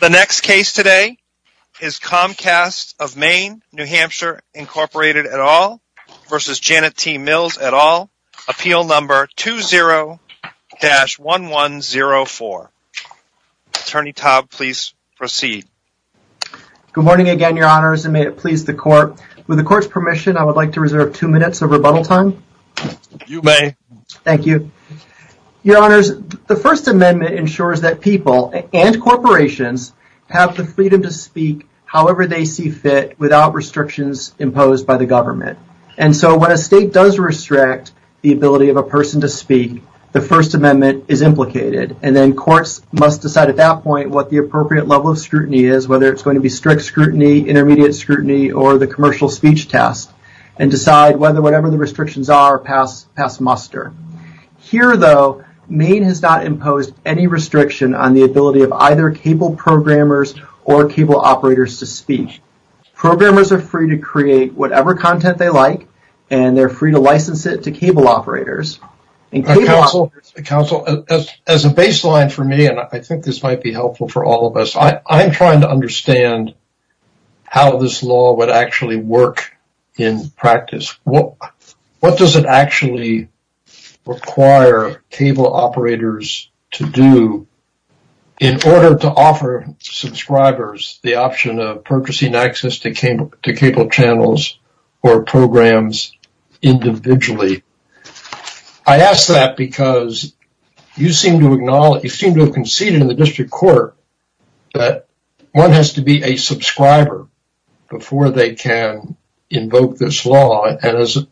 The next case today is Comcast of Maine, New Hampshire, Incorporated, et al. v. Janet T. Mills, et al. Appeal No. 20-1104. Attorney Taub, please proceed. Good morning again, Your Honors, and may it please the Court. With the Court's permission, I would like to reserve two minutes of rebuttal time. You may. Thank you. Your Honors, the First Amendment ensures that people and corporations have the freedom to speak however they see fit without restrictions imposed by the government. And so when a state does restrict the ability of a person to speak, the First Amendment is implicated. And then courts must decide at that point what the appropriate level of scrutiny is, whether it's going to be strict scrutiny, intermediate scrutiny, or the commercial speech test, and decide whether whatever the government imposed any restriction on the ability of either cable programmers or cable operators to speak. Programmers are free to create whatever content they like, and they're free to license it to cable operators. Counsel, as a baseline for me, and I think this might be helpful for all of us, I'm trying to understand how this law would actually work in practice. What does it actually require cable operators to do in order to offer subscribers the option of purchasing access to cable channels or programs individually? I ask that because you seem to have conceded in the District Court that one has to be a subscriber before they can invoke this law. And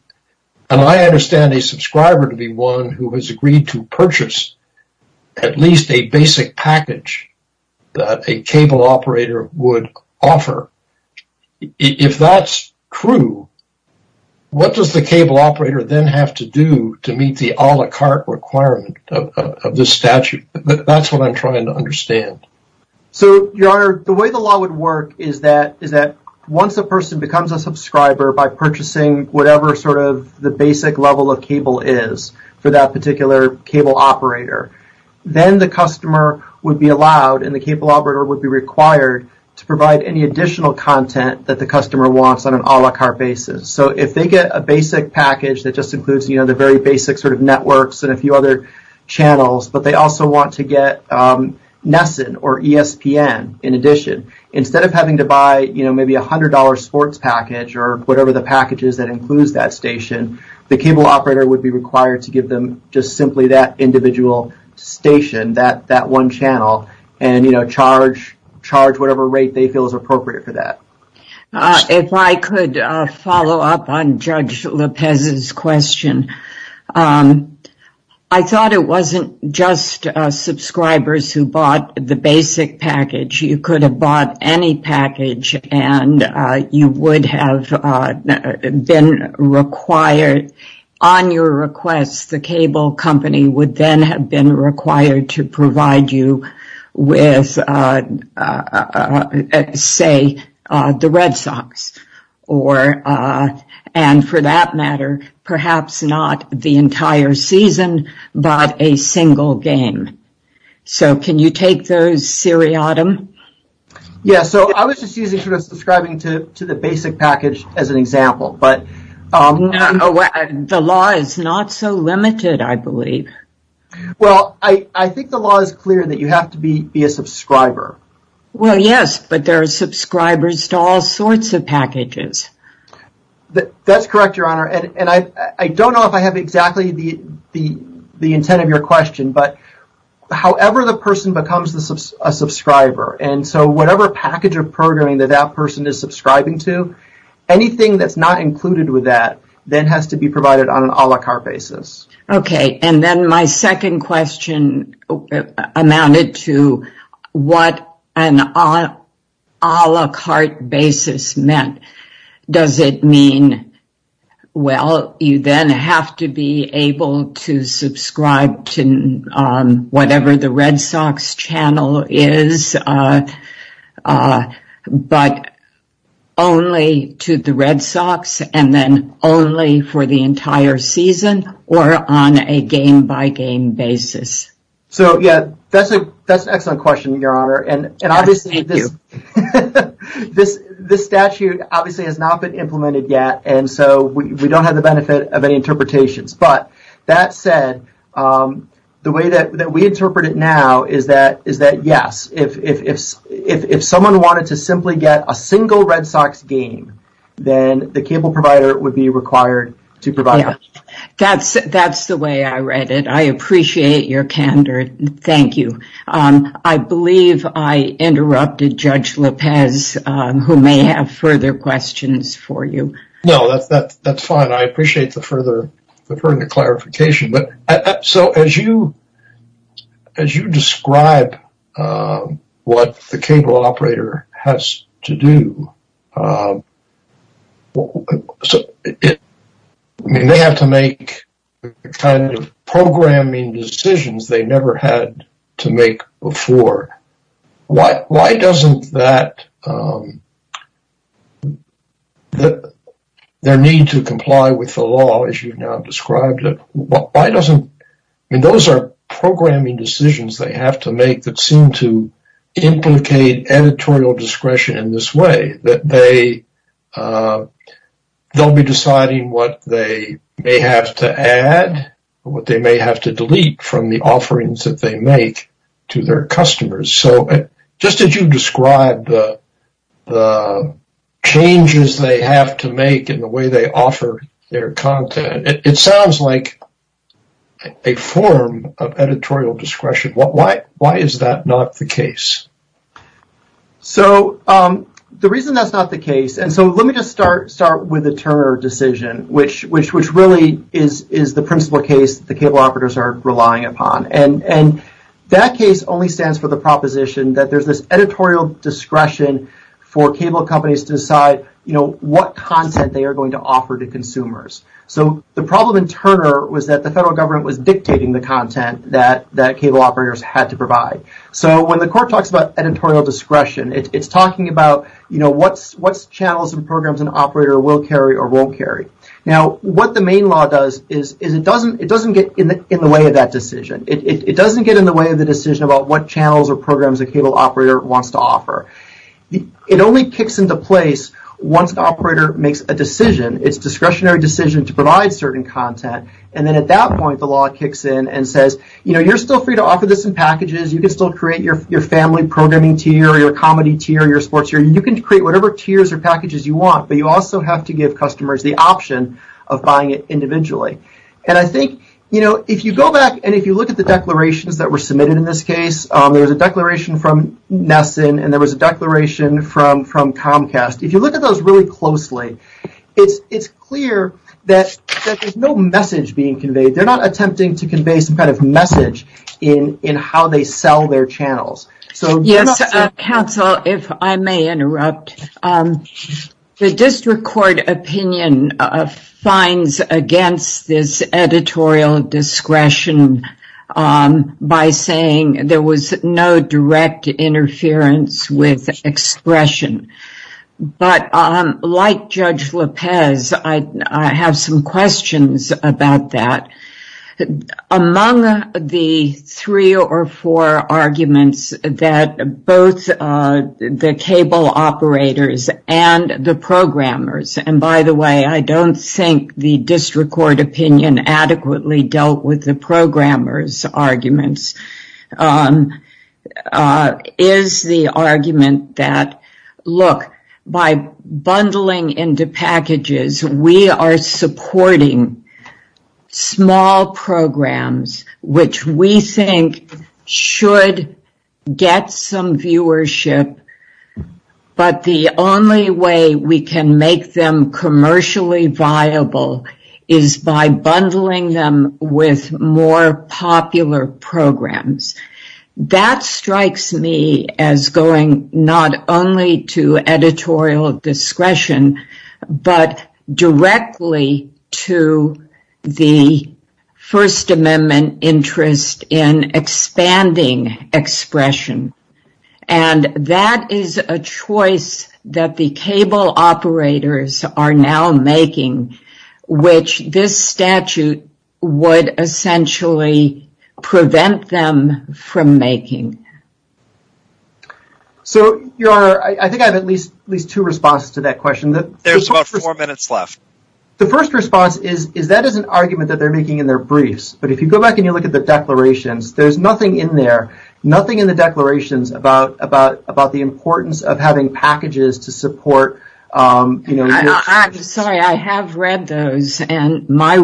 I understand a subscriber to be one who has agreed to purchase at least a basic package that a cable operator would offer. If that's true, what does the cable operator then have to do to meet the a la carte requirement of this statute? That's what I'm trying to understand. So, Your Honor, the way the law would work is that once a person becomes a subscriber by purchasing whatever sort of the basic level of cable is for that particular cable operator, then the customer would be allowed and the cable operator would be required to provide any additional content that the customer wants on an a la carte basis. So, if they get a basic package that just includes the very basic sort of networks and a few other channels, but they also want to get NESN or ESPN in addition, instead of having to buy maybe a $100 sports package or whatever the package is that includes that station, the cable operator would be required to give them just simply that individual station, that one channel, and charge whatever rate they feel is appropriate for that. If I could follow up on Judge Lopez's question. I thought it wasn't just subscribers who bought the basic package. You could have bought any package and you would have been required on your request, the cable company would then have been required to provide you with, say, the Red Sox or, and for that matter, perhaps not the entire season, but a single game. So, can you take those seriatim? Yeah, so I was just using subscribing to the basic package as an example, but... The law is not so limited, I believe. Well, I think the law is clear that you have to be a subscriber. Well, yes, but there are subscribers to all I don't know if I have exactly the intent of your question, but however the person becomes a subscriber, and so whatever package of programming that that person is subscribing to, anything that's not included with that then has to be provided on an a la carte basis. Okay, and then my second question amounted to what an a la carte basis meant. Does it mean, well, you then have to be able to subscribe to whatever the Red Sox channel is, but only to the Red Sox and then only for the entire season or on a game by game basis? So yeah, that's an excellent question, Your Honor, and obviously this statute obviously has not been implemented yet, and so we don't have the benefit of any interpretations, but that said, the way that we interpret it now is that yes, if someone wanted to simply get a single Red Sox game, then the cable provider would be required to provide that. That's the way I read it. I appreciate your candor. Thank you. I believe I interrupted Judge Lopez, who may have further questions for you. No, that's fine. I appreciate the further clarification, but so as you describe what the cable operator has to do, they have to make the kind of programming decisions they never had to make before. Why doesn't that, their need to comply with the law as you've now described it, why doesn't, I mean, those are programming decisions they have to make that seem to implicate editorial discretion in this way, that they'll be deciding what they may have to add, what they may have to delete from the offerings that they make to their customers. So just as you described the changes they have to make in the way they offer their content, it sounds like a form of editorial discretion. Why is that not the case? So the reason that's not the case, and so let me just start with the Turner decision, which really is the principle case the cable operators are relying upon. And that case only stands for the proposition that there's this editorial discretion for cable companies to decide what content they are going to offer to consumers. So the problem in Turner was that the federal government was dictating the content that cable operators had to provide. So when the court talks about editorial discretion, it's talking about what channels and programs an operator will carry or won't carry. Now what the main law does is it doesn't get in the way of that decision. It doesn't get in the way of the decision about what channels or programs a cable operator wants to offer. It only kicks into place once the operator makes a decision, it's a discretionary decision to provide certain content, and then at that point the law kicks in and says, you know, you're still free to offer this in packages, you can still create your family programming tier, your comedy tier, your sports tier, you can create whatever tiers or packages you want, but you also have to give customers the option of buying it individually. And I think, you know, if you go back and if you look at the declarations that were submitted in this case, there was a declaration from Nesson and there was a declaration from Comcast. If you look at those really closely, it's clear that there's no message being conveyed. They're not attempting to convey some kind of message in how they sell their channels. Yes, counsel, if I may interrupt. The district court opinion fines against this editorial discretion by saying there was no direct interference with expression. But, like Judge Lopez, I have some questions about that. Among the three or four arguments that both the cable operators and the programmers, and by the way, I don't think the district court opinion adequately dealt with the programmers' arguments, is the argument that, look, by bundling into packages, we are supporting small programs, which we think should get some viewership, but the only way we can make them commercially viable is by bundling them with more popular programs. That strikes me as going not only to editorial discretion, but directly to the First Amendment interest in expanding expression, and that is a choice that the cable operators are now making, which this statute would essentially prevent them from making. So, Your Honor, I think I have at least two responses to that question. There's about four minutes left. The first response is that is an argument that they're making in their briefs, but if you go back and you look at the declarations, there's nothing in there, nothing in the declarations about the importance of having packages to support... Sorry, I have read those, and my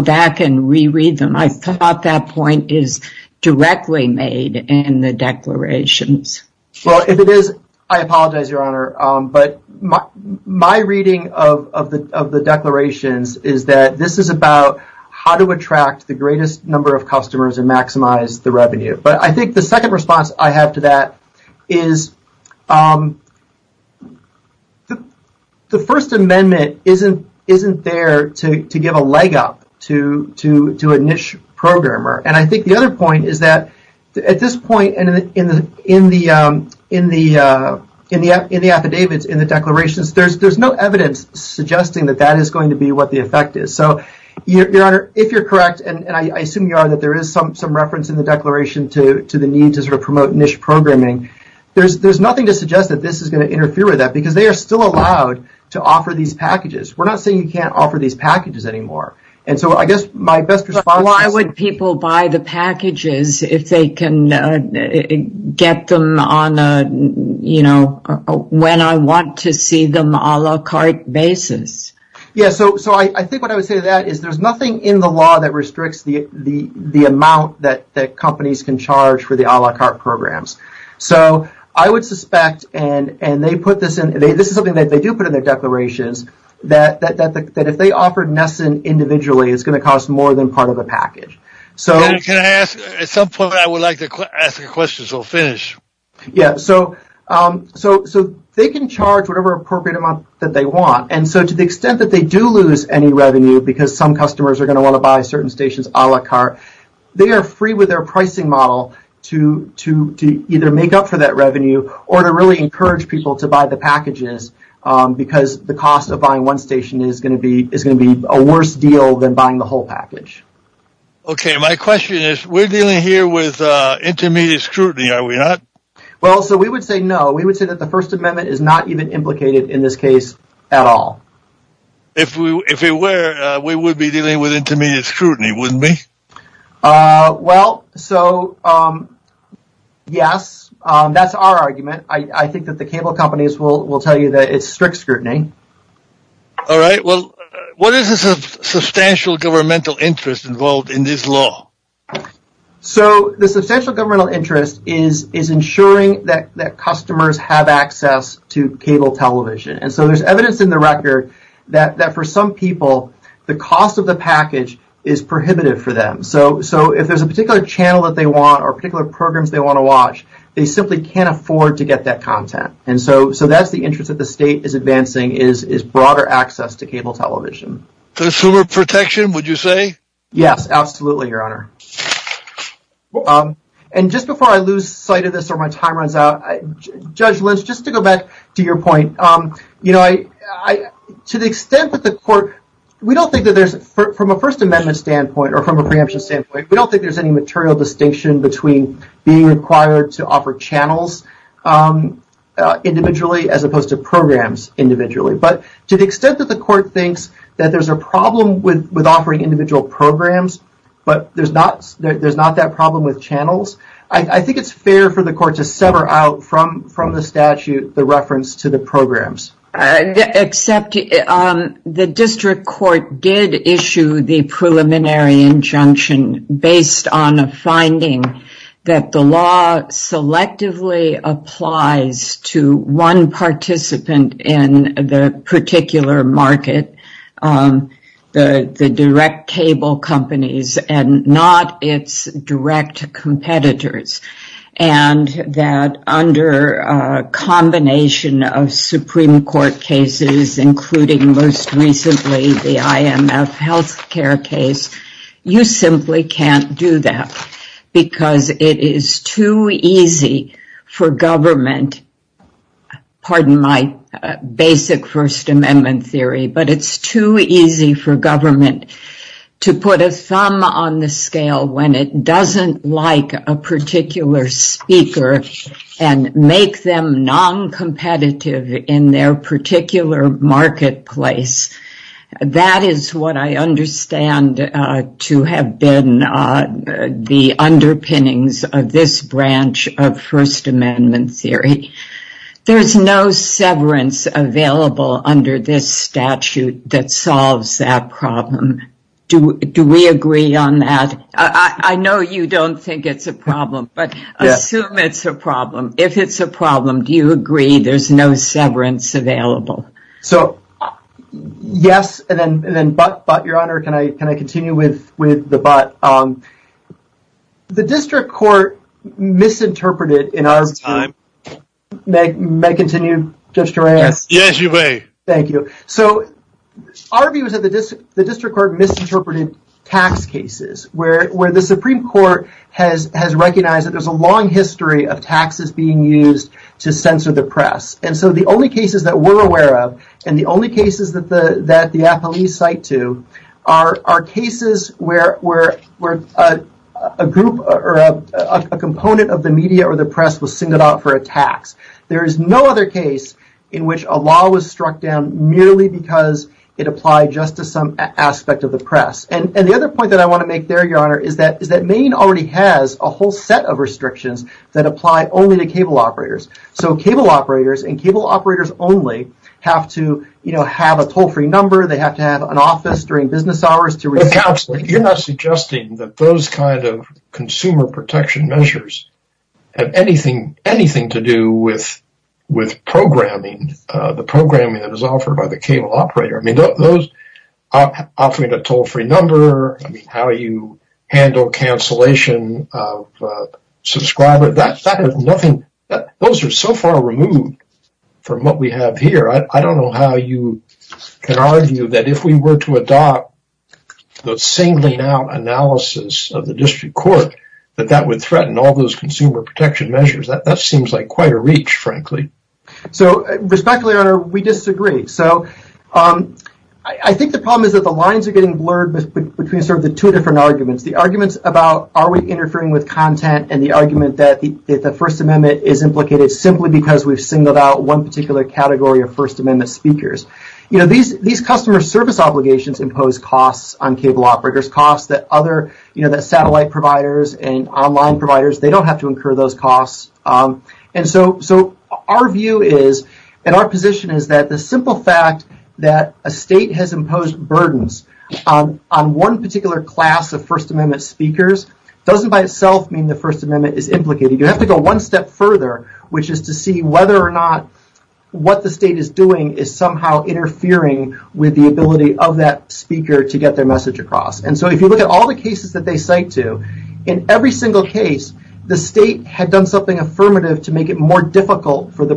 back and reread them. I thought that point is directly made in the declarations. Well, if it is, I apologize, Your Honor, but my reading of the declarations is that this is about how to attract the greatest number of customers and maximize the revenue, but I think the second to a niche programmer, and I think the other point is that at this point in the affidavits, in the declarations, there's no evidence suggesting that that is going to be what the effect is. So, Your Honor, if you're correct, and I assume you are, that there is some reference in the declaration to the need to sort of promote niche programming, there's nothing to suggest that this is going to interfere with that because they are still allowed to offer these packages. We're not saying you can't offer these packages anymore. And so, I guess my best response is... But why would people buy the packages if they can get them on a, you know, when I want to see them a la carte basis? Yeah, so I think what I would say to that is there's nothing in the law that restricts the amount that companies can charge for the a la carte programs. So, I would suspect, and they put this in, this is something that they do put in their declarations, that if they offered Nesson individually, it's going to cost more than part of the package. And can I ask, at some point I would like to ask a question, so finish. Yeah, so they can charge whatever appropriate amount that they want. And so, to the extent that they do lose any revenue because some customers are going to want to buy certain stations a la carte, they are free with their pricing model to either make up for that revenue or to really encourage people to buy the packages. Because the cost of buying one station is going to be a worse deal than buying the whole package. Okay, my question is, we're dealing here with intermediate scrutiny, are we not? Well, so we would say no. We would say that the First Amendment is not even implicated in this case at all. If it were, we would be dealing with intermediate scrutiny, wouldn't we? Well, so yes, that's our argument. I think that the cable companies will tell you that it's strict scrutiny. All right, well, what is the substantial governmental interest involved in this law? So, the substantial governmental interest is ensuring that customers have access to cable television. And so, there's evidence in the record that for some people, the cost of the package is prohibitive for them. So, if there's a particular channel that they want or particular programs they want to watch, they simply can't afford to get that content. And so, that's the interest that the state is advancing is broader access to cable television. Consumer protection, would you say? Yes, absolutely, Your Honor. And just before I lose sight of this or my time runs out, Judge Lynch, just to go back to your point, to the extent that the court, we don't think that there's, from a First Amendment standpoint or from a preemption standpoint, we don't think there's any material distinction between being required to offer channels individually as opposed to programs individually. But to the extent that the court thinks that there's a problem with offering individual programs, but there's not that problem with channels, I think it's fair for the court to sever out from the statute the reference to the programs. Except the district court did issue the preliminary injunction based on a finding that the law selectively applies to one participant in the particular market, the direct cable companies, and not its direct competitors. And that under a combination of Supreme Court cases, including most recently the IMF health care case, you simply can't do that because it is too easy for government, pardon my basic First Amendment theory, but it's too easy for government to put a thumb on the scale when it doesn't like a particular speaker and make them non-competitive in their particular marketplace. That is what I understand to have been the underpinnings of this branch of First Amendment theory. There's no severance available under this statute that solves that problem. Do we agree on that? I know you don't think it's a problem, but assume it's a problem. If it's a problem, do you agree there's no severance available? So yes, and then but your honor, can I continue with the but? The district court misinterpreted in our time, may I continue? Yes, you may. Thank you. So our view is the district court misinterpreted tax cases, where the Supreme Court has recognized that there's a long history of taxes being used to censor the press. And so the only cases that we're aware of, and the only cases that the apologies cite to, are cases where a group or a component of the media or the press was singled out for a tax. There is no other case in which a law was struck down merely because it applied just to some aspect of the press. And the other point that I want to make there, your honor, is that Maine already has a whole set of restrictions that apply only to cable operators. So cable operators and cable operators only have to, you know, have a toll-free number, they have to have an office during business hours. Counselor, you're not suggesting that those kind of consumer protection measures have anything to do with programming, the programming that is a cable operator. I mean, offering a toll-free number, I mean, how you handle cancellation of subscriber, those are so far removed from what we have here. I don't know how you can argue that if we were to adopt the singling out analysis of the district court, that that would threaten all those consumer protection measures. That seems like quite a reach, frankly. So respectfully, your honor, we disagree. So I think the problem is that the lines are getting blurred between sort of the two different arguments. The arguments about are we interfering with content and the argument that the First Amendment is implicated simply because we've singled out one particular category of First Amendment speakers. You know, these customer service obligations impose costs on cable operators, costs that other, you know, that satellite providers and online providers, they don't have to incur those The simple fact that a state has imposed burdens on one particular class of First Amendment speakers doesn't by itself mean the First Amendment is implicated. You have to go one step further, which is to see whether or not what the state is doing is somehow interfering with the ability of that speaker to get their message across. And so if you look at all the cases that they cite to, in every single case, the state had done something affirmative to make it more difficult for the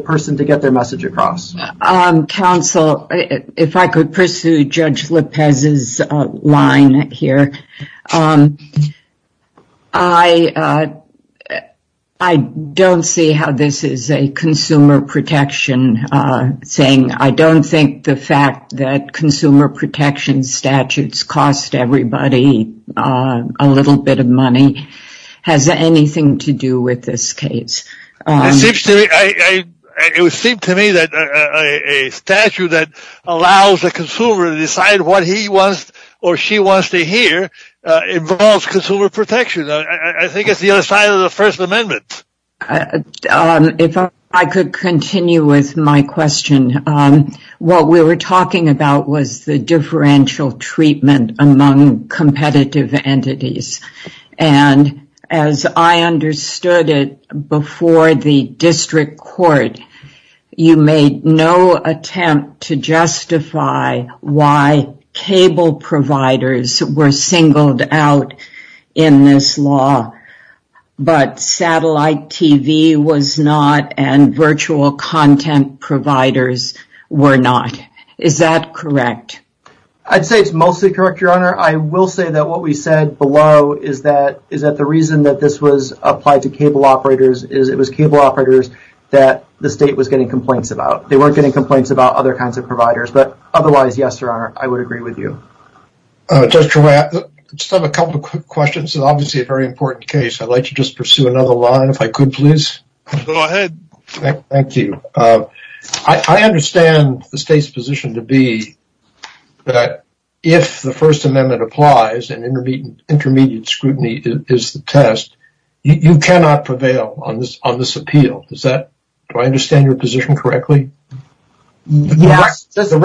counsel. If I could pursue Judge Lopez's line here. I don't see how this is a consumer protection thing. I don't think the fact that consumer protection statutes cost everybody a little bit of money has anything to do with this case. It would seem to me that a statute that allows the consumer to decide what he wants or she wants to hear involves consumer protection. I think it's the other side of the First Amendment. If I could continue with my question. What we were talking was the differential treatment among competitive entities. And as I understood it before the district court, you made no attempt to justify why cable providers were singled out in this law, but satellite TV was not and virtual content providers were not. Is that correct? I'd say it's mostly correct, Your Honor. I will say that what we said below is that the reason that this was applied to cable operators is it was cable operators that the state was getting complaints about. They weren't getting complaints about other kinds of providers. But otherwise, yes, Your Honor, I would agree with you. I just have a couple of quick questions. It's obviously a very important case. I'd like to just pursue another line if I could, please. Go ahead. Thank you. I understand the state's position to be that if the First Amendment applies and intermediate scrutiny is the test, you cannot prevail on this appeal. Do I understand your position correctly? Yes. The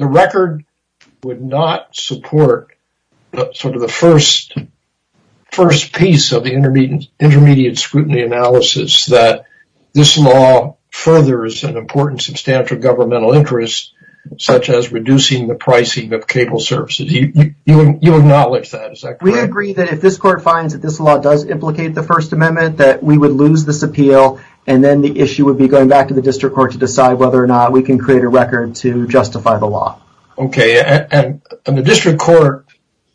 record would not support sort of the first piece of the intermediate scrutiny analysis that this law furthers an important substantial governmental interest, such as reducing the pricing of cable services. You acknowledge that, is that correct? We agree that if this court finds that this law does implicate the First Amendment, that we would lose this appeal and then the issue would be going back to the district court to decide whether or not we can create a record to justify the law. OK. And the district court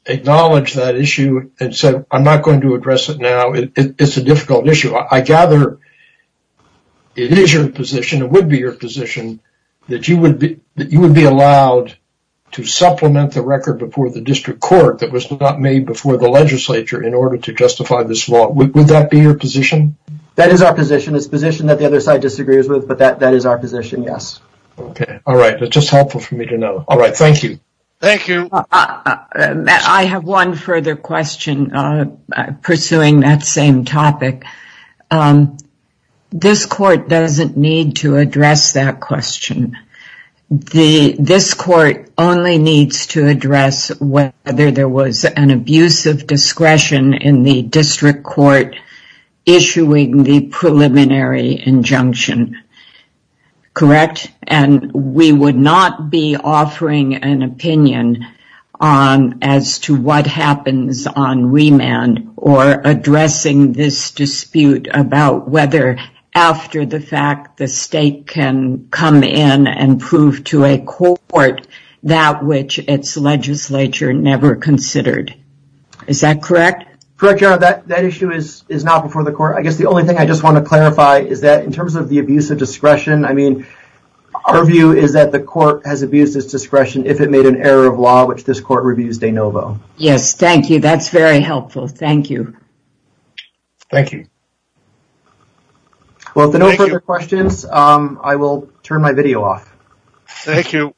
acknowledged that issue and said, I'm not going to address it now. It's a difficult issue. I gather it is your position, it would be your position, that you would be allowed to supplement the record before the district court that was not made before the legislature in order to justify this law. Would that be your position? That is our position. It's a position that the other side disagrees with, but that is our position. Yes. OK. All right. That's just helpful for me to know. All right. Thank you. Thank you. I have one further question pursuing that same topic. This court doesn't need to address that question. This court only needs to address whether there was an abuse of discretion in the district court issuing the preliminary injunction. Correct. And we would not be offering an opinion on as to what happens on remand or after the fact the state can come in and prove to a court that which its legislature never considered. Is that correct? Correct. That issue is not before the court. I guess the only thing I just want to clarify is that in terms of the abuse of discretion, I mean, our view is that the court has abused its discretion if it made an error of law, which this court reviews de novo. Yes. Thank you. That's very helpful. Thank you. Thank you. Well, if there are no further questions, I will turn my video off. Thank you.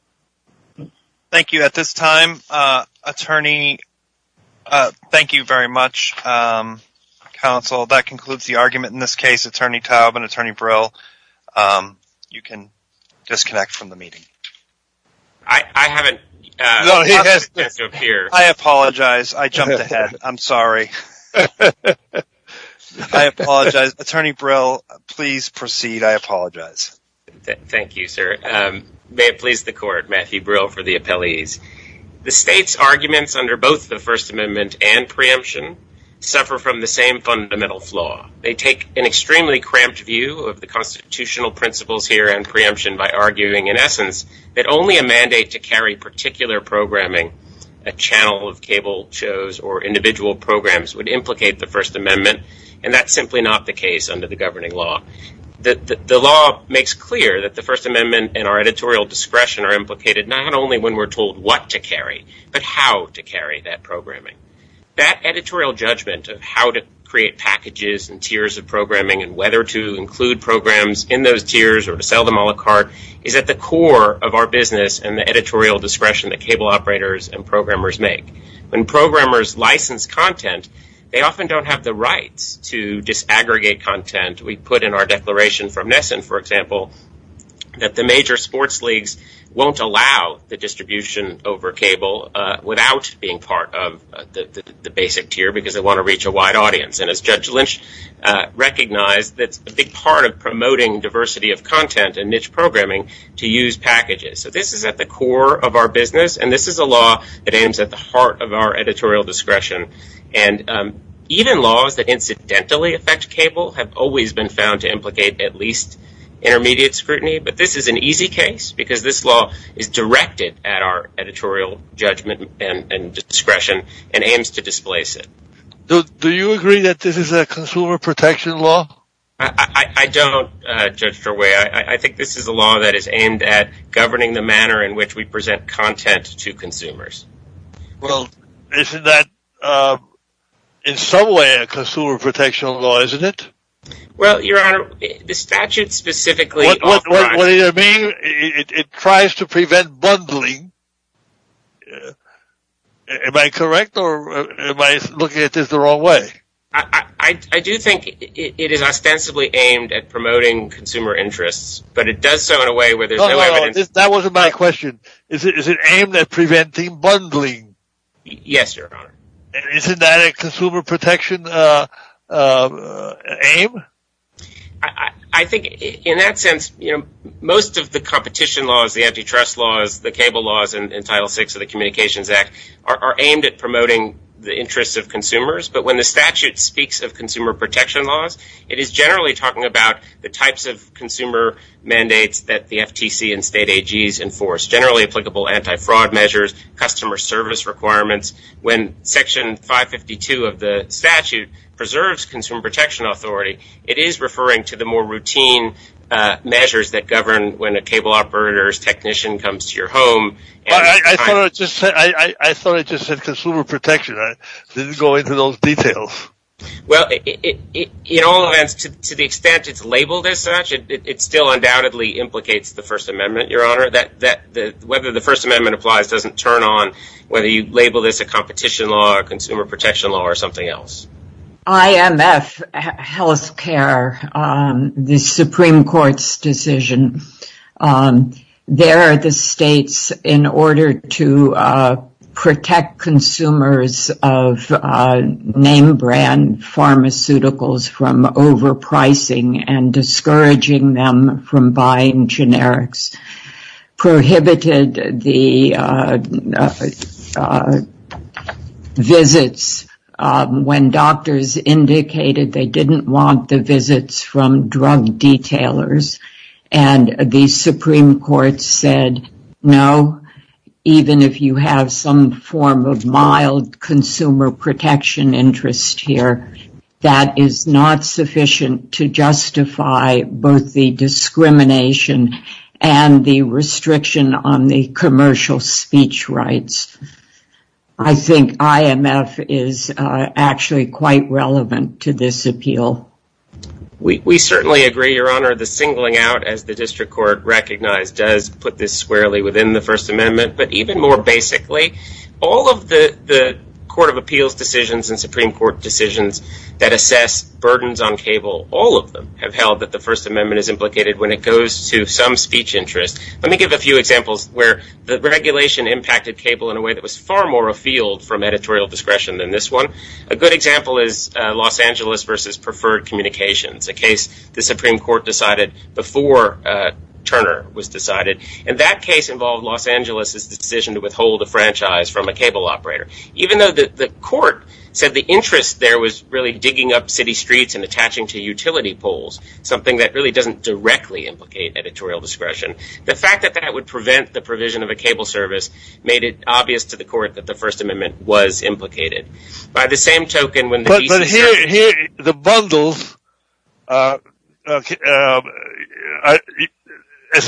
Thank you. At this time, attorney. Thank you very much, counsel. That concludes the argument in this case. Attorney Taub and Attorney Brill, you can disconnect from the meeting. I haven't. I apologize. I jumped ahead. I'm sorry. I apologize. Attorney Brill, please proceed. I apologize. Thank you, sir. May it please the court. Matthew Brill for the appellees. The state's arguments under both the First Amendment and preemption suffer from the same fundamental flaw. They take an extremely cramped view of the constitutional principles here and preemption by arguing, in essence, that only a mandate to carry particular programming, a channel of cable shows or individual programs would implicate the First Amendment. And that's simply not the case under the governing law. The law makes clear that the First Amendment and our editorial discretion are implicated not only when we're told what to carry, but how to carry that programming. That editorial judgment of how to create packages and tiers of to sell them all a cart is at the core of our business and the editorial discretion that cable operators and programmers make. When programmers license content, they often don't have the rights to disaggregate content. We put in our declaration from Nesson, for example, that the major sports leagues won't allow the distribution over cable without being part of the basic tier because they want to reach a wide audience. And as Judge Lynch recognized, that's a big part of promoting diversity of content and niche programming to use packages. So this is at the core of our business. And this is a law that aims at the heart of our editorial discretion. And even laws that incidentally affect cable have always been found to implicate at least intermediate scrutiny. But this is an easy case because this law is directed at our editorial judgment and discretion and aims to displace it. Do you agree that this is a consumer protection law? I don't, Judge Durway. I think this is a law that is aimed at governing the manner in which we present content to consumers. Well, isn't that in some way a consumer protection law, isn't it? Well, Your Honor, the statute specifically... What do you mean? It tries to prevent bundling. Am I correct or am I looking at this the wrong way? I do think it is ostensibly aimed at promoting consumer interests, but it does so in a way where there's no evidence... That wasn't my question. Is it aimed at preventing bundling? Yes, Your Honor. Isn't that a consumer protection aim? I think in that sense, most of the competition laws, the antitrust laws, the cable laws in Title VI of the Communications Act are aimed at promoting the interests of consumers. But when the statute speaks of consumer protection laws, it is generally talking about the types of consumer mandates that the FTC and state AGs enforce, generally applicable anti-fraud measures, customer service requirements. When Section 552 of the statute preserves consumer protection authority, it is referring to the more routine measures that govern when a cable operator's technician comes to your home... But I thought I just said consumer protection. I didn't go into those details. Well, in all events, to the extent it's labeled as such, it still undoubtedly implicates the First Amendment, Your Honor. Whether the First Amendment applies doesn't turn on whether you label this a competition law, a consumer protection law, or something else. IMF, health care, the Supreme Court's decision. They're the states in order to protect consumers of name brand pharmaceuticals from overpricing and discouraging them from buying generics. Prohibited the visits when doctors indicated they didn't want the visits from drug detailers. And the Supreme Court said, no, even if you have some form of mild consumer protection interest here, that is not sufficient to justify both the discrimination and the restriction on the commercial speech rights. I think IMF is actually quite relevant to this appeal. We certainly agree, Your Honor. The singling out, as the district court recognized, does put this squarely within the First Amendment. But even more basically, all of the Court of Appeals decisions and Supreme Court decisions that assess burdens on cable, all of them have held that the First Amendment is implicated when it goes to some speech interest. Let me give a few examples where the regulation impacted cable in a way that was far more a field from editorial discretion than this one. A good example is Los Angeles versus preferred communications, a case the Supreme Court decided before Turner was decided. And that case involved Los Angeles' decision to withhold a franchise from a cable operator. Even though the court said the interest there was really digging up city streets and attaching to utility poles, something that really doesn't directly implicate editorial discretion, the fact that that would prevent the provision of a cable service made it obvious to the court that the First Amendment was implicated. But here, the bundles, as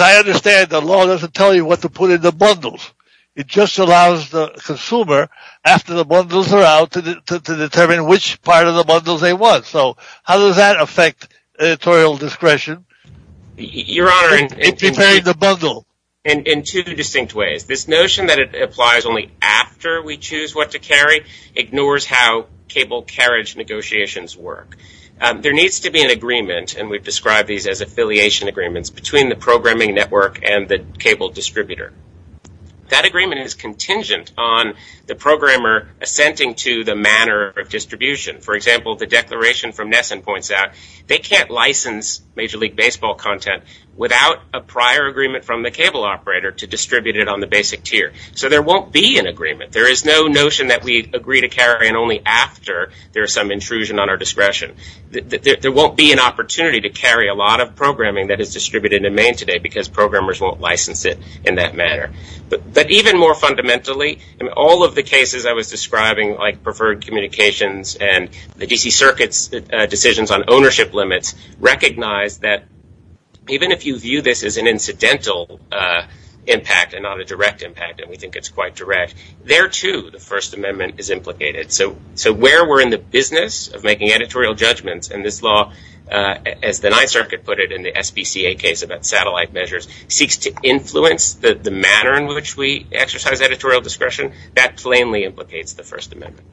I understand, the law doesn't tell you what to put in the bundles. It just allows the consumer, after the bundles are out, to determine which part of the bundles they want. So how does that affect editorial discretion in preparing the bundle? In two distinct ways. This notion that it applies only after we choose what to carry ignores how cable carriage negotiations work. There needs to be an agreement, and we've described these as affiliation agreements, between the programming network and the cable distributor. That agreement is contingent on the programmer assenting to the manner of distribution. For example, the declaration from Nesson points out they can't license Major League Baseball content without a prior agreement from the cable operator to distribute it on the basic tier. So there won't be an agreement. There is no notion that we agree to carry in only after there is some intrusion on our discretion. There won't be an opportunity to carry a lot of programming that is distributed in Maine today because programmers won't license it in that manner. But even more fundamentally, in all of the cases I was describing, like preferred communications and the D.C. Circuit's decisions on ownership limits, recognize that even if you view this as an incidental impact and not a direct impact, and we think it's quite direct, there too the First Amendment is implicated. So where we're in the business of making editorial judgments, and this law, as the Ninth Circuit put it in the SBCA case about satellite measures, seeks to influence the manner in which we exercise editorial discretion, that plainly implicates the First Amendment.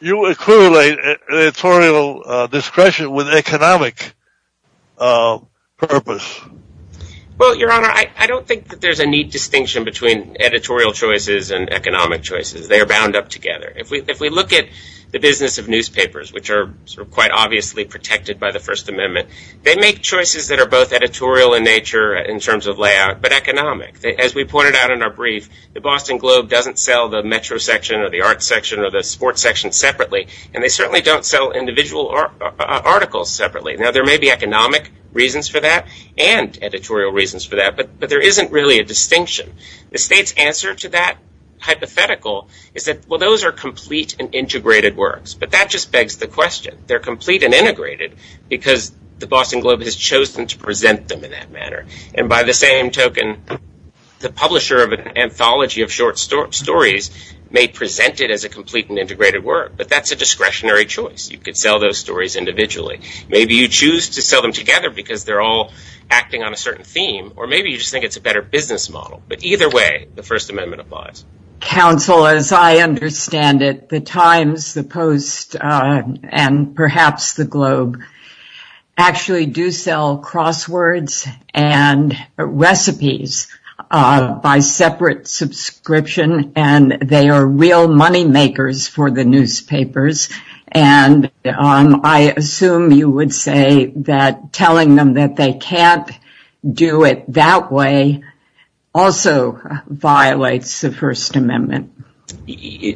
You accumulate editorial discretion with economic purpose. Well, Your Honor, I don't think that there's a neat distinction between editorial choices and economic choices. They are bound up together. If we look at the business of newspapers, which are quite obviously protected by the First Amendment, they make choices that are both editorial in nature in terms of layout, but economic. As we pointed out in our brief, the Boston Globe doesn't sell the Metro section or the art section or the sports section separately, and they certainly don't sell individual articles separately. Now, there may be economic reasons for that and editorial reasons for that, but there isn't really a distinction. The State's answer to that hypothetical is that, well, those are complete and integrated works, but that just begs the question. They're complete and integrated because the Boston Globe has chosen to present them in that manner. And by the same token, the publisher of an anthology of short stories may present it as a complete and integrated work, but that's a discretionary choice. You could sell those stories individually. Maybe you choose to sell them together because they're all acting on a certain theme, or maybe you just think it's a better business model. But either way, the First Amendment applies. Counsel, as I understand it, the Times, the Post, and perhaps the Globe actually do sell crosswords and recipes by separate subscription, and they are real moneymakers for the newspapers. And I assume you would say that telling them that they can't do it that way also violates the First Amendment.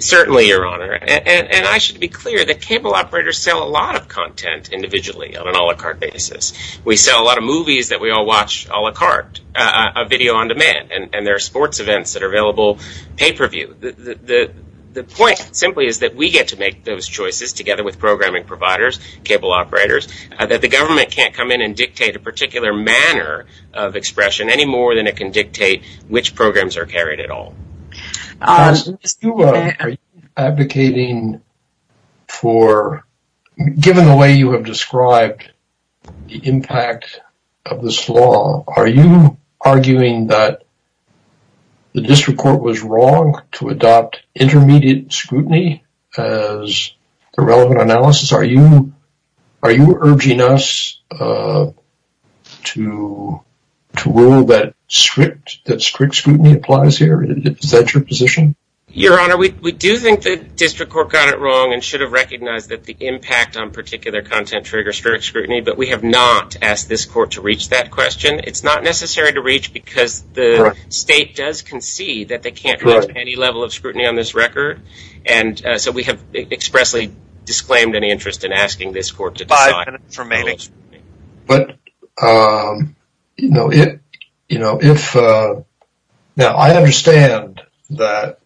Certainly, Your Honor. And I should be clear that cable operators sell a lot of content individually on an a la carte basis. We sell a lot of movies that we all watch a la carte, a video on demand, and there are sports events that are available pay-per-view. The point simply is that we get to make those choices together with programming providers, cable operators, that the government can't come in and dictate a particular manner of expression any more than it can dictate which programs are carried at all. Are you advocating for, given the way you have described the impact of this law, are you arguing that the district court was wrong to adopt intermediate scrutiny as the relevant analysis? Are you urging us to rule that strict scrutiny applies here? Is that your position? Your Honor, we do think the district court got it wrong and should have recognized that the impact on particular content triggers strict scrutiny, but we have not asked this court to reach that question. It's not necessary to reach because the state does concede that they can't reach any level of scrutiny on this record. And so we have expressly disclaimed any interest in asking this court to decide. Five minutes remaining. Now, I understand that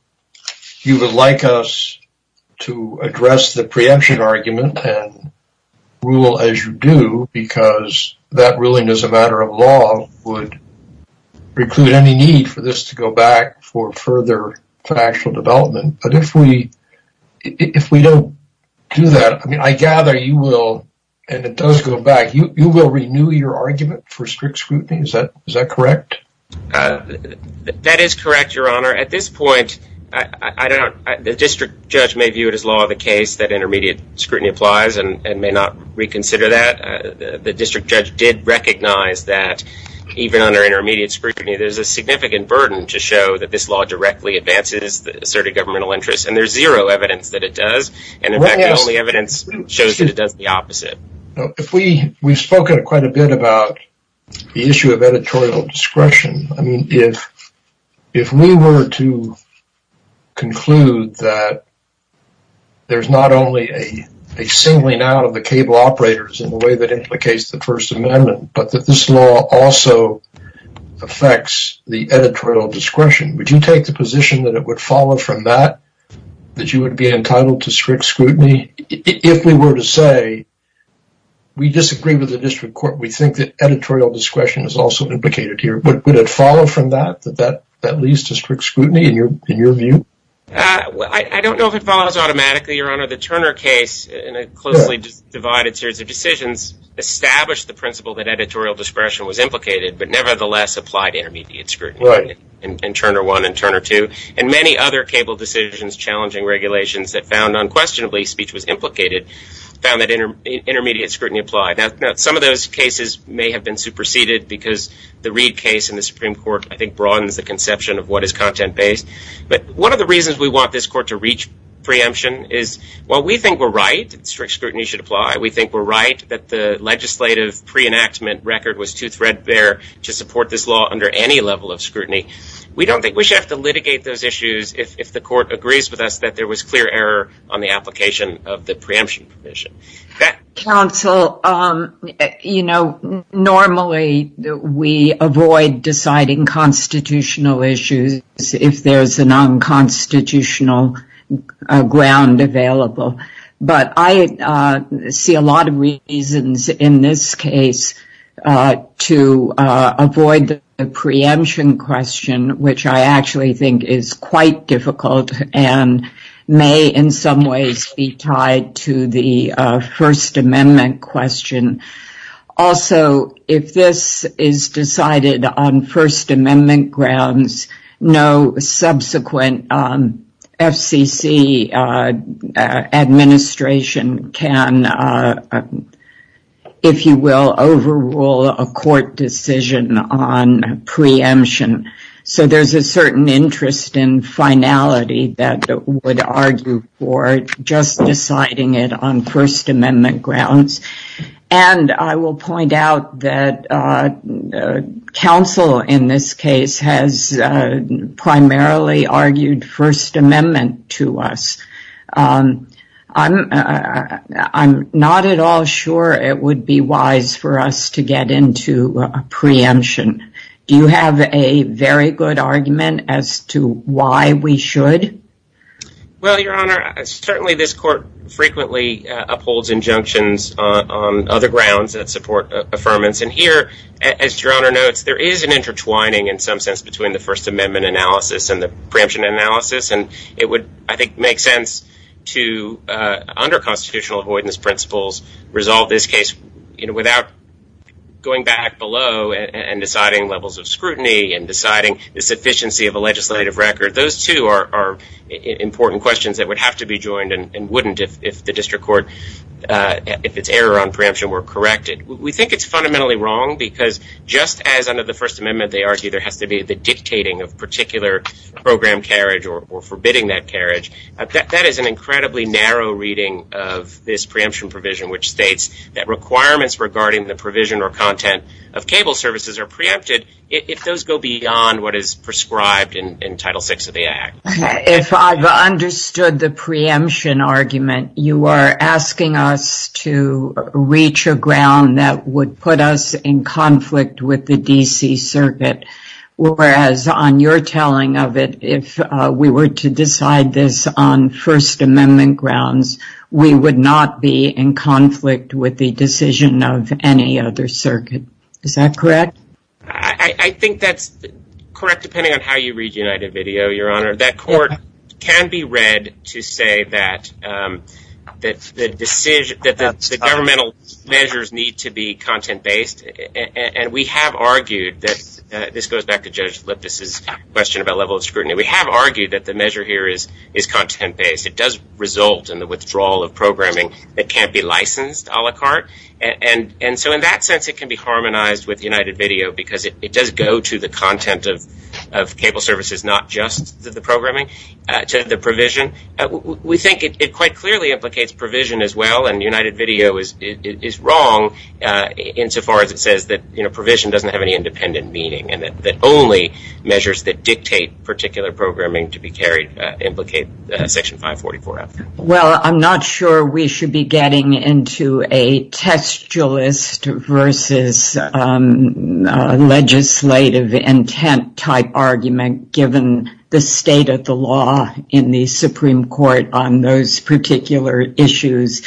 you would like us to address the preemption argument and rule as you do because that ruling is a matter of law, would preclude any need for this to go back for further factual development. But if we don't do that, I mean, I gather you will, and it does go back, you will renew your argument for strict scrutiny. Is that correct? That is correct, Your Honor. At this point, the district judge may view it as law of the case that intermediate scrutiny applies and may not reconsider that. The district judge did recognize that even under intermediate scrutiny, there's a significant burden to show that this law directly advances the asserted governmental interest. And there's zero evidence that it does. And in fact, the only evidence shows that it does the opposite. We've spoken quite a bit about the issue of editorial discretion. I mean, if we were to conclude that there's not only a singling out of the cable operators in the way that implicates the First Amendment, but that this law also affects the editorial discretion, would you take the position that it would follow from that, that you would be entitled to strict scrutiny? I mean, if we were to say, we disagree with the district court, we think that editorial discretion is also implicated here, would it follow from that, that that leads to strict scrutiny in your view? I don't know if it follows automatically, Your Honor. The Turner case, in a closely divided series of decisions, established the principle that editorial discretion was implicated, but nevertheless applied intermediate scrutiny in Turner 1 and Turner 2, and many other cable decisions challenging regulations that found unquestionably speech was implicated, found that intermediate scrutiny applied. Now, some of those cases may have been superseded because the Reid case in the Supreme Court, I think, broadens the conception of what is content-based. But one of the reasons we want this court to reach preemption is, while we think we're right, strict scrutiny should apply, we think we're right that the legislative pre-enactment record was too threadbare to support this law under any level of scrutiny, we don't think we should have to litigate those issues if the court agrees with us that there was clear error on the application of the preemption provision. Counsel, you know, normally we avoid deciding constitutional issues if there's a non-constitutional ground available. But I see a lot of reasons in this case to avoid the preemption question, which I actually think is quite difficult and may in some ways be tied to the First Amendment question. Also, if this is decided on First Amendment grounds, no subsequent FCC administration can, if you will, overrule a court decision on preemption. So there's a certain interest in finality that would argue for just deciding it on First Amendment grounds. And I will point out that counsel, in this case, has primarily argued First Amendment to us. I'm not at all sure it would be wise for us to get into preemption. Do you have a very good argument as to why we should? Well, Your Honor, certainly this court frequently upholds injunctions on other grounds that support affirmance. And here, as Your Honor notes, there is an intertwining, in some sense, between the First Amendment analysis and the preemption analysis. And it would, I think, make sense to, under constitutional avoidance principles, resolve this case without going back below and deciding levels of scrutiny and deciding the sufficiency of a legislative record. Those two are important questions that would have to be joined and wouldn't if the district court, if its error on preemption were corrected. We think it's fundamentally wrong because just as under the First Amendment, they argue there has to be the dictating of particular program carriage or forbidding that carriage, that is an incredibly narrow reading of this preemption provision, which states that requirements regarding the provision or content of cable services are preempted if those go beyond what is prescribed in Title VI of the Act. If I've understood the preemption argument, you are asking us to reach a ground that would put us in conflict with the D.C. Circuit. Whereas on your telling of it, if we were to decide this on First Amendment grounds, we would not be in conflict with the decision of any other circuit. Is that correct? I think that's correct, depending on how you read United Video, Your Honor. That court can be read to say that the governmental measures need to be content-based. And we have argued that, this goes back to Judge Lippis' question about level of scrutiny, we have argued that the measure here is content-based. It does result in the withdrawal of programming that can't be licensed a la carte. And so in that sense, it can be harmonized with United Video because it does go to the content of cable services, not just the programming, to the provision. We think it quite clearly implicates provision as well, and United Video is wrong insofar as it says that provision doesn't have any independent meaning and that only measures that dictate particular programming to be carried implicate Section 544. Well, I'm not sure we should be getting into a textualist versus legislative intent type argument given the state of the law in the Supreme Court on those particular issues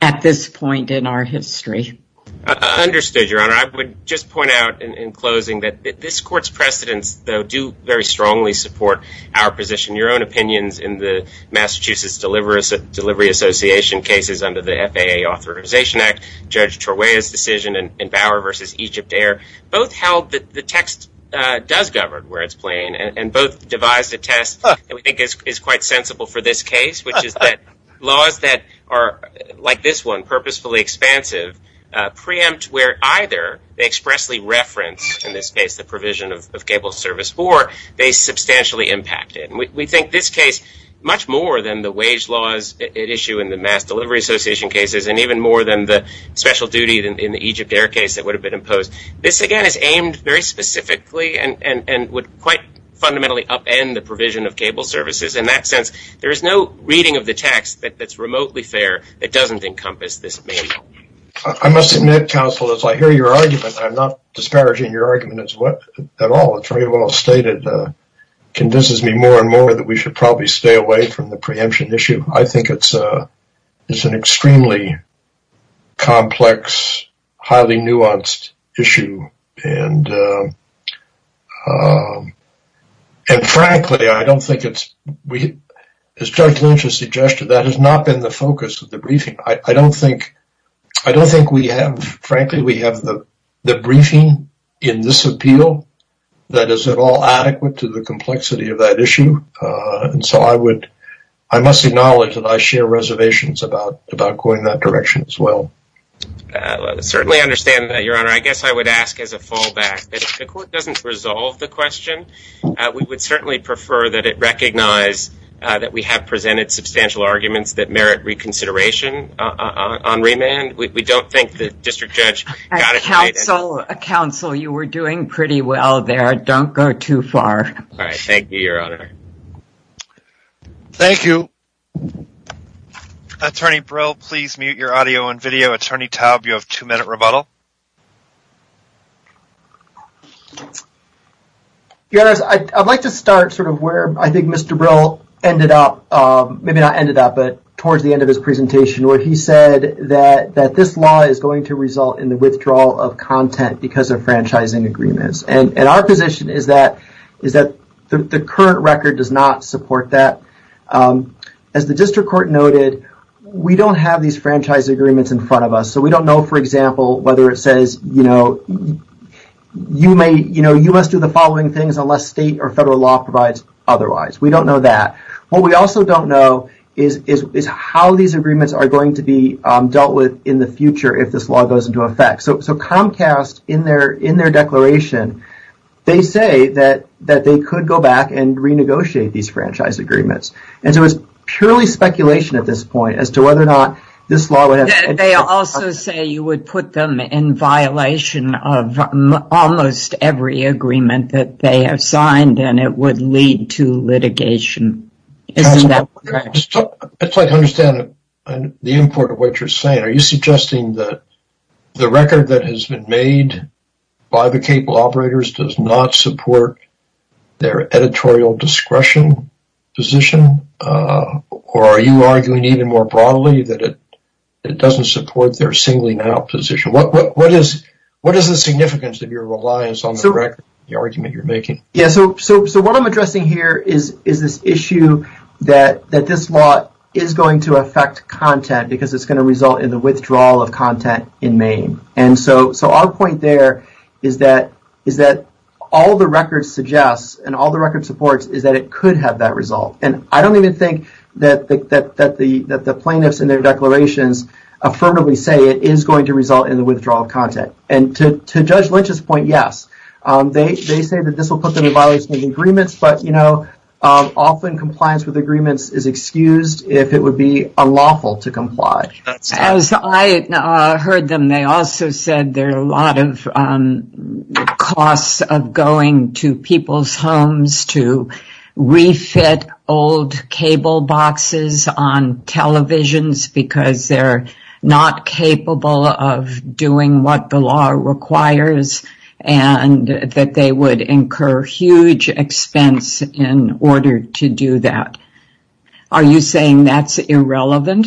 at this point in our history. Understood, Your Honor. I would just point out in closing that this Court's precedents, though, do very strongly support our position. Your own opinions in the Massachusetts Delivery Association cases under the FAA Authorization Act, Judge Torwaya's decision in Bauer v. Egypt Air, both held that the text does govern where it's playing, and both devised a test that we think is quite sensible for this case, which is that laws that are, like this one, purposefully expansive preempt where either they expressly reference, in this case, the provision of cable service, or they substantially impact it. We think this case, much more than the wage laws it issued in the Mass Delivery Association cases, and even more than the special duty in the Egypt Air case that would have been imposed, this, again, is aimed very specifically and would quite fundamentally upend the provision of cable services. In that sense, there is no reading of the text that's remotely fair that doesn't encompass this manual. I must admit, counsel, as I hear your argument, I'm not disparaging your argument at all. It's very well stated. It convinces me more and more that we should probably stay away from the preemption issue. I think it's an extremely complex, highly nuanced issue, and frankly, I don't think it's... That has not been the focus of the briefing. I don't think we have, frankly, the briefing in this appeal that is at all adequate to the complexity of that issue. And so I must acknowledge that I share reservations about going that direction as well. I certainly understand that, Your Honor. I guess I would ask as a fallback that if the Court doesn't resolve the question, we would certainly prefer that it recognize that we have presented substantial arguments that merit reconsideration on remand. We don't think the district judge... Counsel, counsel, you were doing pretty well there. Don't go too far. All right. Thank you, Your Honor. Thank you. Attorney Brill, please mute your audio and video. Attorney Taub, you have two-minute rebuttal. Your Honor, I'd like to start sort of where I think Mr. Brill ended up, maybe not ended up, but towards the end of his presentation where he said that this law is going to result in the withdrawal of content because of franchising agreements. And our position is that the current record does not support that. As the district court noted, we don't have these franchise agreements in front of us. So we don't know, for example, whether it says, you know, you must do the following things unless state or federal law provides otherwise. We don't know that. What we also don't know is how these agreements are going to be dealt with in the future if this law goes into effect. So Comcast, in their declaration, they say that they could go back and renegotiate these franchise agreements. And so it's purely speculation at this point as to whether or not this law would have... They also say you would put them in violation of almost every agreement that they have signed, and it would lead to litigation. Isn't that correct? I'd like to understand the import of what you're saying. Are you suggesting that the record that has been made by the cable operators does not support their editorial discretion position? Or are you arguing even more broadly that it doesn't support their singling out position? What is the significance of your reliance on the record, the argument you're making? Yeah, so what I'm addressing here is this issue that this law is going to affect content because it's going to result in the withdrawal of content in Maine. And so our point there is that all the record suggests and all the record supports is that it could have that result. And I don't even think that the plaintiffs in their declarations affirmatively say it is going to result in the withdrawal of content. And to Judge Lynch's point, yes, they say that this will put them in violation of the agreements. But, you know, often compliance with agreements is excused if it would be unlawful to comply. As I heard them, they also said there are a lot of costs of going to people's homes to refit old cable boxes on televisions because they're not capable of doing what the law requires and that they would incur huge expense in order to do that. Are you saying that's irrelevant?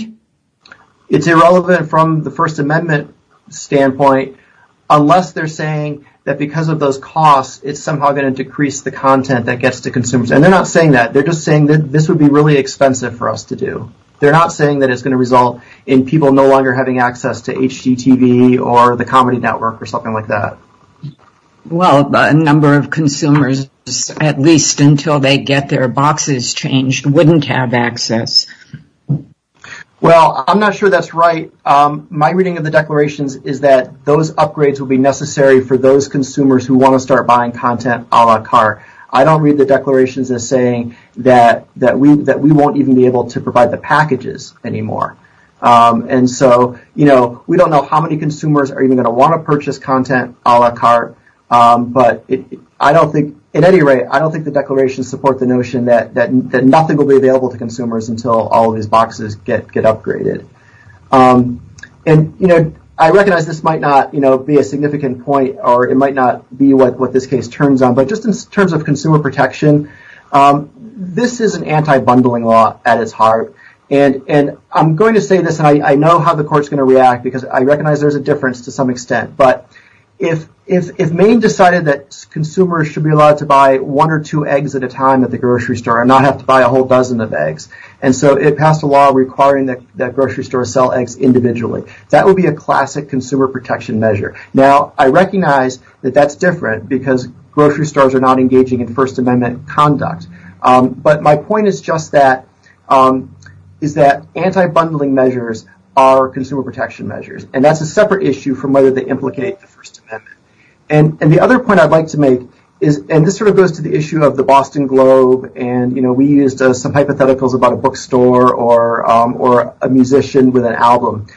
It's irrelevant from the First Amendment standpoint unless they're saying that because of those costs it's somehow going to decrease the content that gets to consumers. And they're not saying that. They're just saying that this would be really expensive for us to do. They're not saying that it's going to result in people no longer having access to HDTV or the Comedy Network or something like that. Well, a number of consumers, at least until they get their boxes changed, wouldn't have access. Well, I'm not sure that's right. My reading of the declarations is that those upgrades will be necessary for those consumers who want to start buying content a la carte. I don't read the declarations as saying that we won't even be able to provide the packages anymore. And so, you know, we don't know how many consumers are even going to want to purchase content a la carte. But I don't think, at any rate, I don't think the declarations support the notion that nothing will be available to consumers until all of these boxes get upgraded. And, you know, I recognize this might not be a significant point or it might not be what this case turns on. But just in terms of consumer protection, this is an anti-bundling law at its heart. And I'm going to say this. I know how the court's going to react because I recognize there's a difference to some extent. But if Maine decided that consumers should be allowed to buy one or two eggs at a time at the grocery store and not have to buy a whole dozen of eggs, and so it passed a law requiring that grocery stores sell eggs individually, that would be a classic consumer protection measure. Now, I recognize that that's different because grocery stores are not engaging in First Amendment conduct. But my point is just that is that anti-bundling measures are consumer protection measures. And that's a separate issue from whether they implicate the First Amendment. And the other point I'd like to make is, and this sort of goes to the issue of the Boston Globe. And we used some hypotheticals about a bookstore or a musician with an album.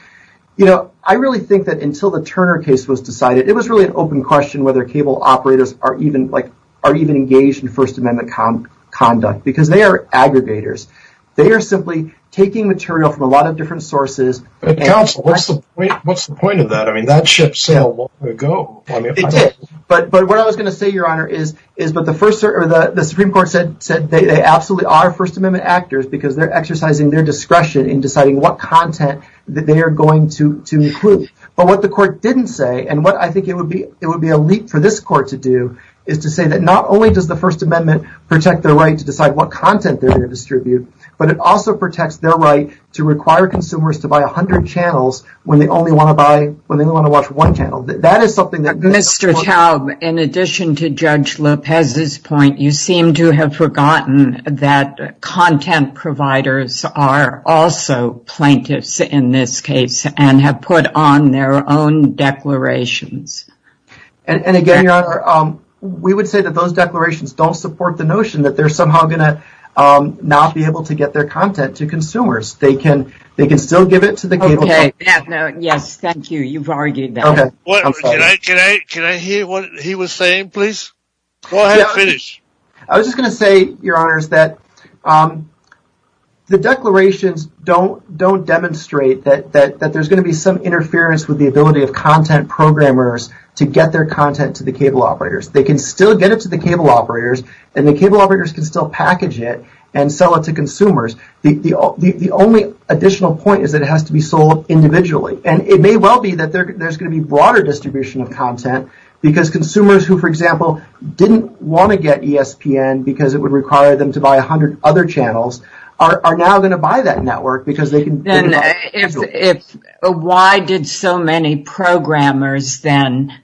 I really think that until the Turner case was decided, it was really an open question whether cable operators are even engaged in First Amendment conduct because they are aggregators. They are simply taking material from a lot of different sources. But counsel, what's the point of that? I mean, that ship sailed long ago. It did. But what I was going to say, Your Honor, is that the Supreme Court said they absolutely are First Amendment actors because they're exercising their discretion in deciding what content they are going to include. But what the court didn't say, and what I think it would be a leap for this court to do, is to say that not only does the First Amendment protect their right to decide what content they're going to distribute, but it also protects their right to require consumers to buy 100 channels when they only want to watch one channel. Mr. Taub, in addition to Judge Lopez's point, you seem to have forgotten that content providers are also plaintiffs in this case and have put on their own declarations. And again, Your Honor, we would say that those declarations don't support the notion that they're somehow going to not be able to get their content to consumers. They can still give it to the cable company. Yes, thank you. You've argued that. Can I hear what he was saying, please? Go ahead, finish. I was just going to say, Your Honor, that the declarations don't demonstrate that there's going to be some interference with the ability of content programmers to get their content to the cable operators. They can still get it to the cable operators, and the cable operators can still package it and sell it to consumers. The only additional point is that it has to be sold individually. And it may well be that there's going to be broader distribution of content because consumers who, for example, didn't want to get ESPN because it would require them to buy 100 other channels are now going to buy that network because they can get it all individually. Then why did so many programmers then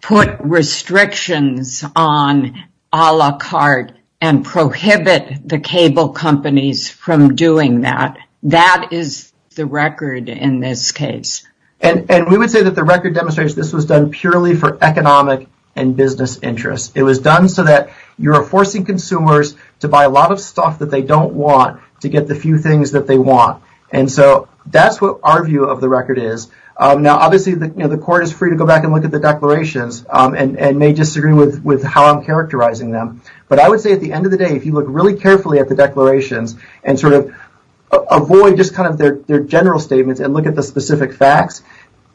put restrictions on a la carte and prohibit the cable companies from doing that? That is the record in this case. And we would say that the record demonstrates this was done purely for economic and business interests. It was done so that you're forcing consumers to buy a lot of stuff that they don't want to get the few things that they want. And so that's what our view of the record is. Now, obviously, the court is free to go back and look at the declarations and may disagree with how I'm characterizing them. But I would say at the end of the day, if you look really carefully at the declarations and sort of avoid just kind of their general statements and look at the specific facts,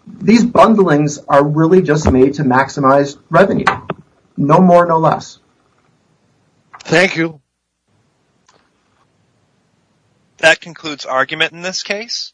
these bundlings are really just made to maximize revenue. No more, no less. Thank you. That concludes argument in this case.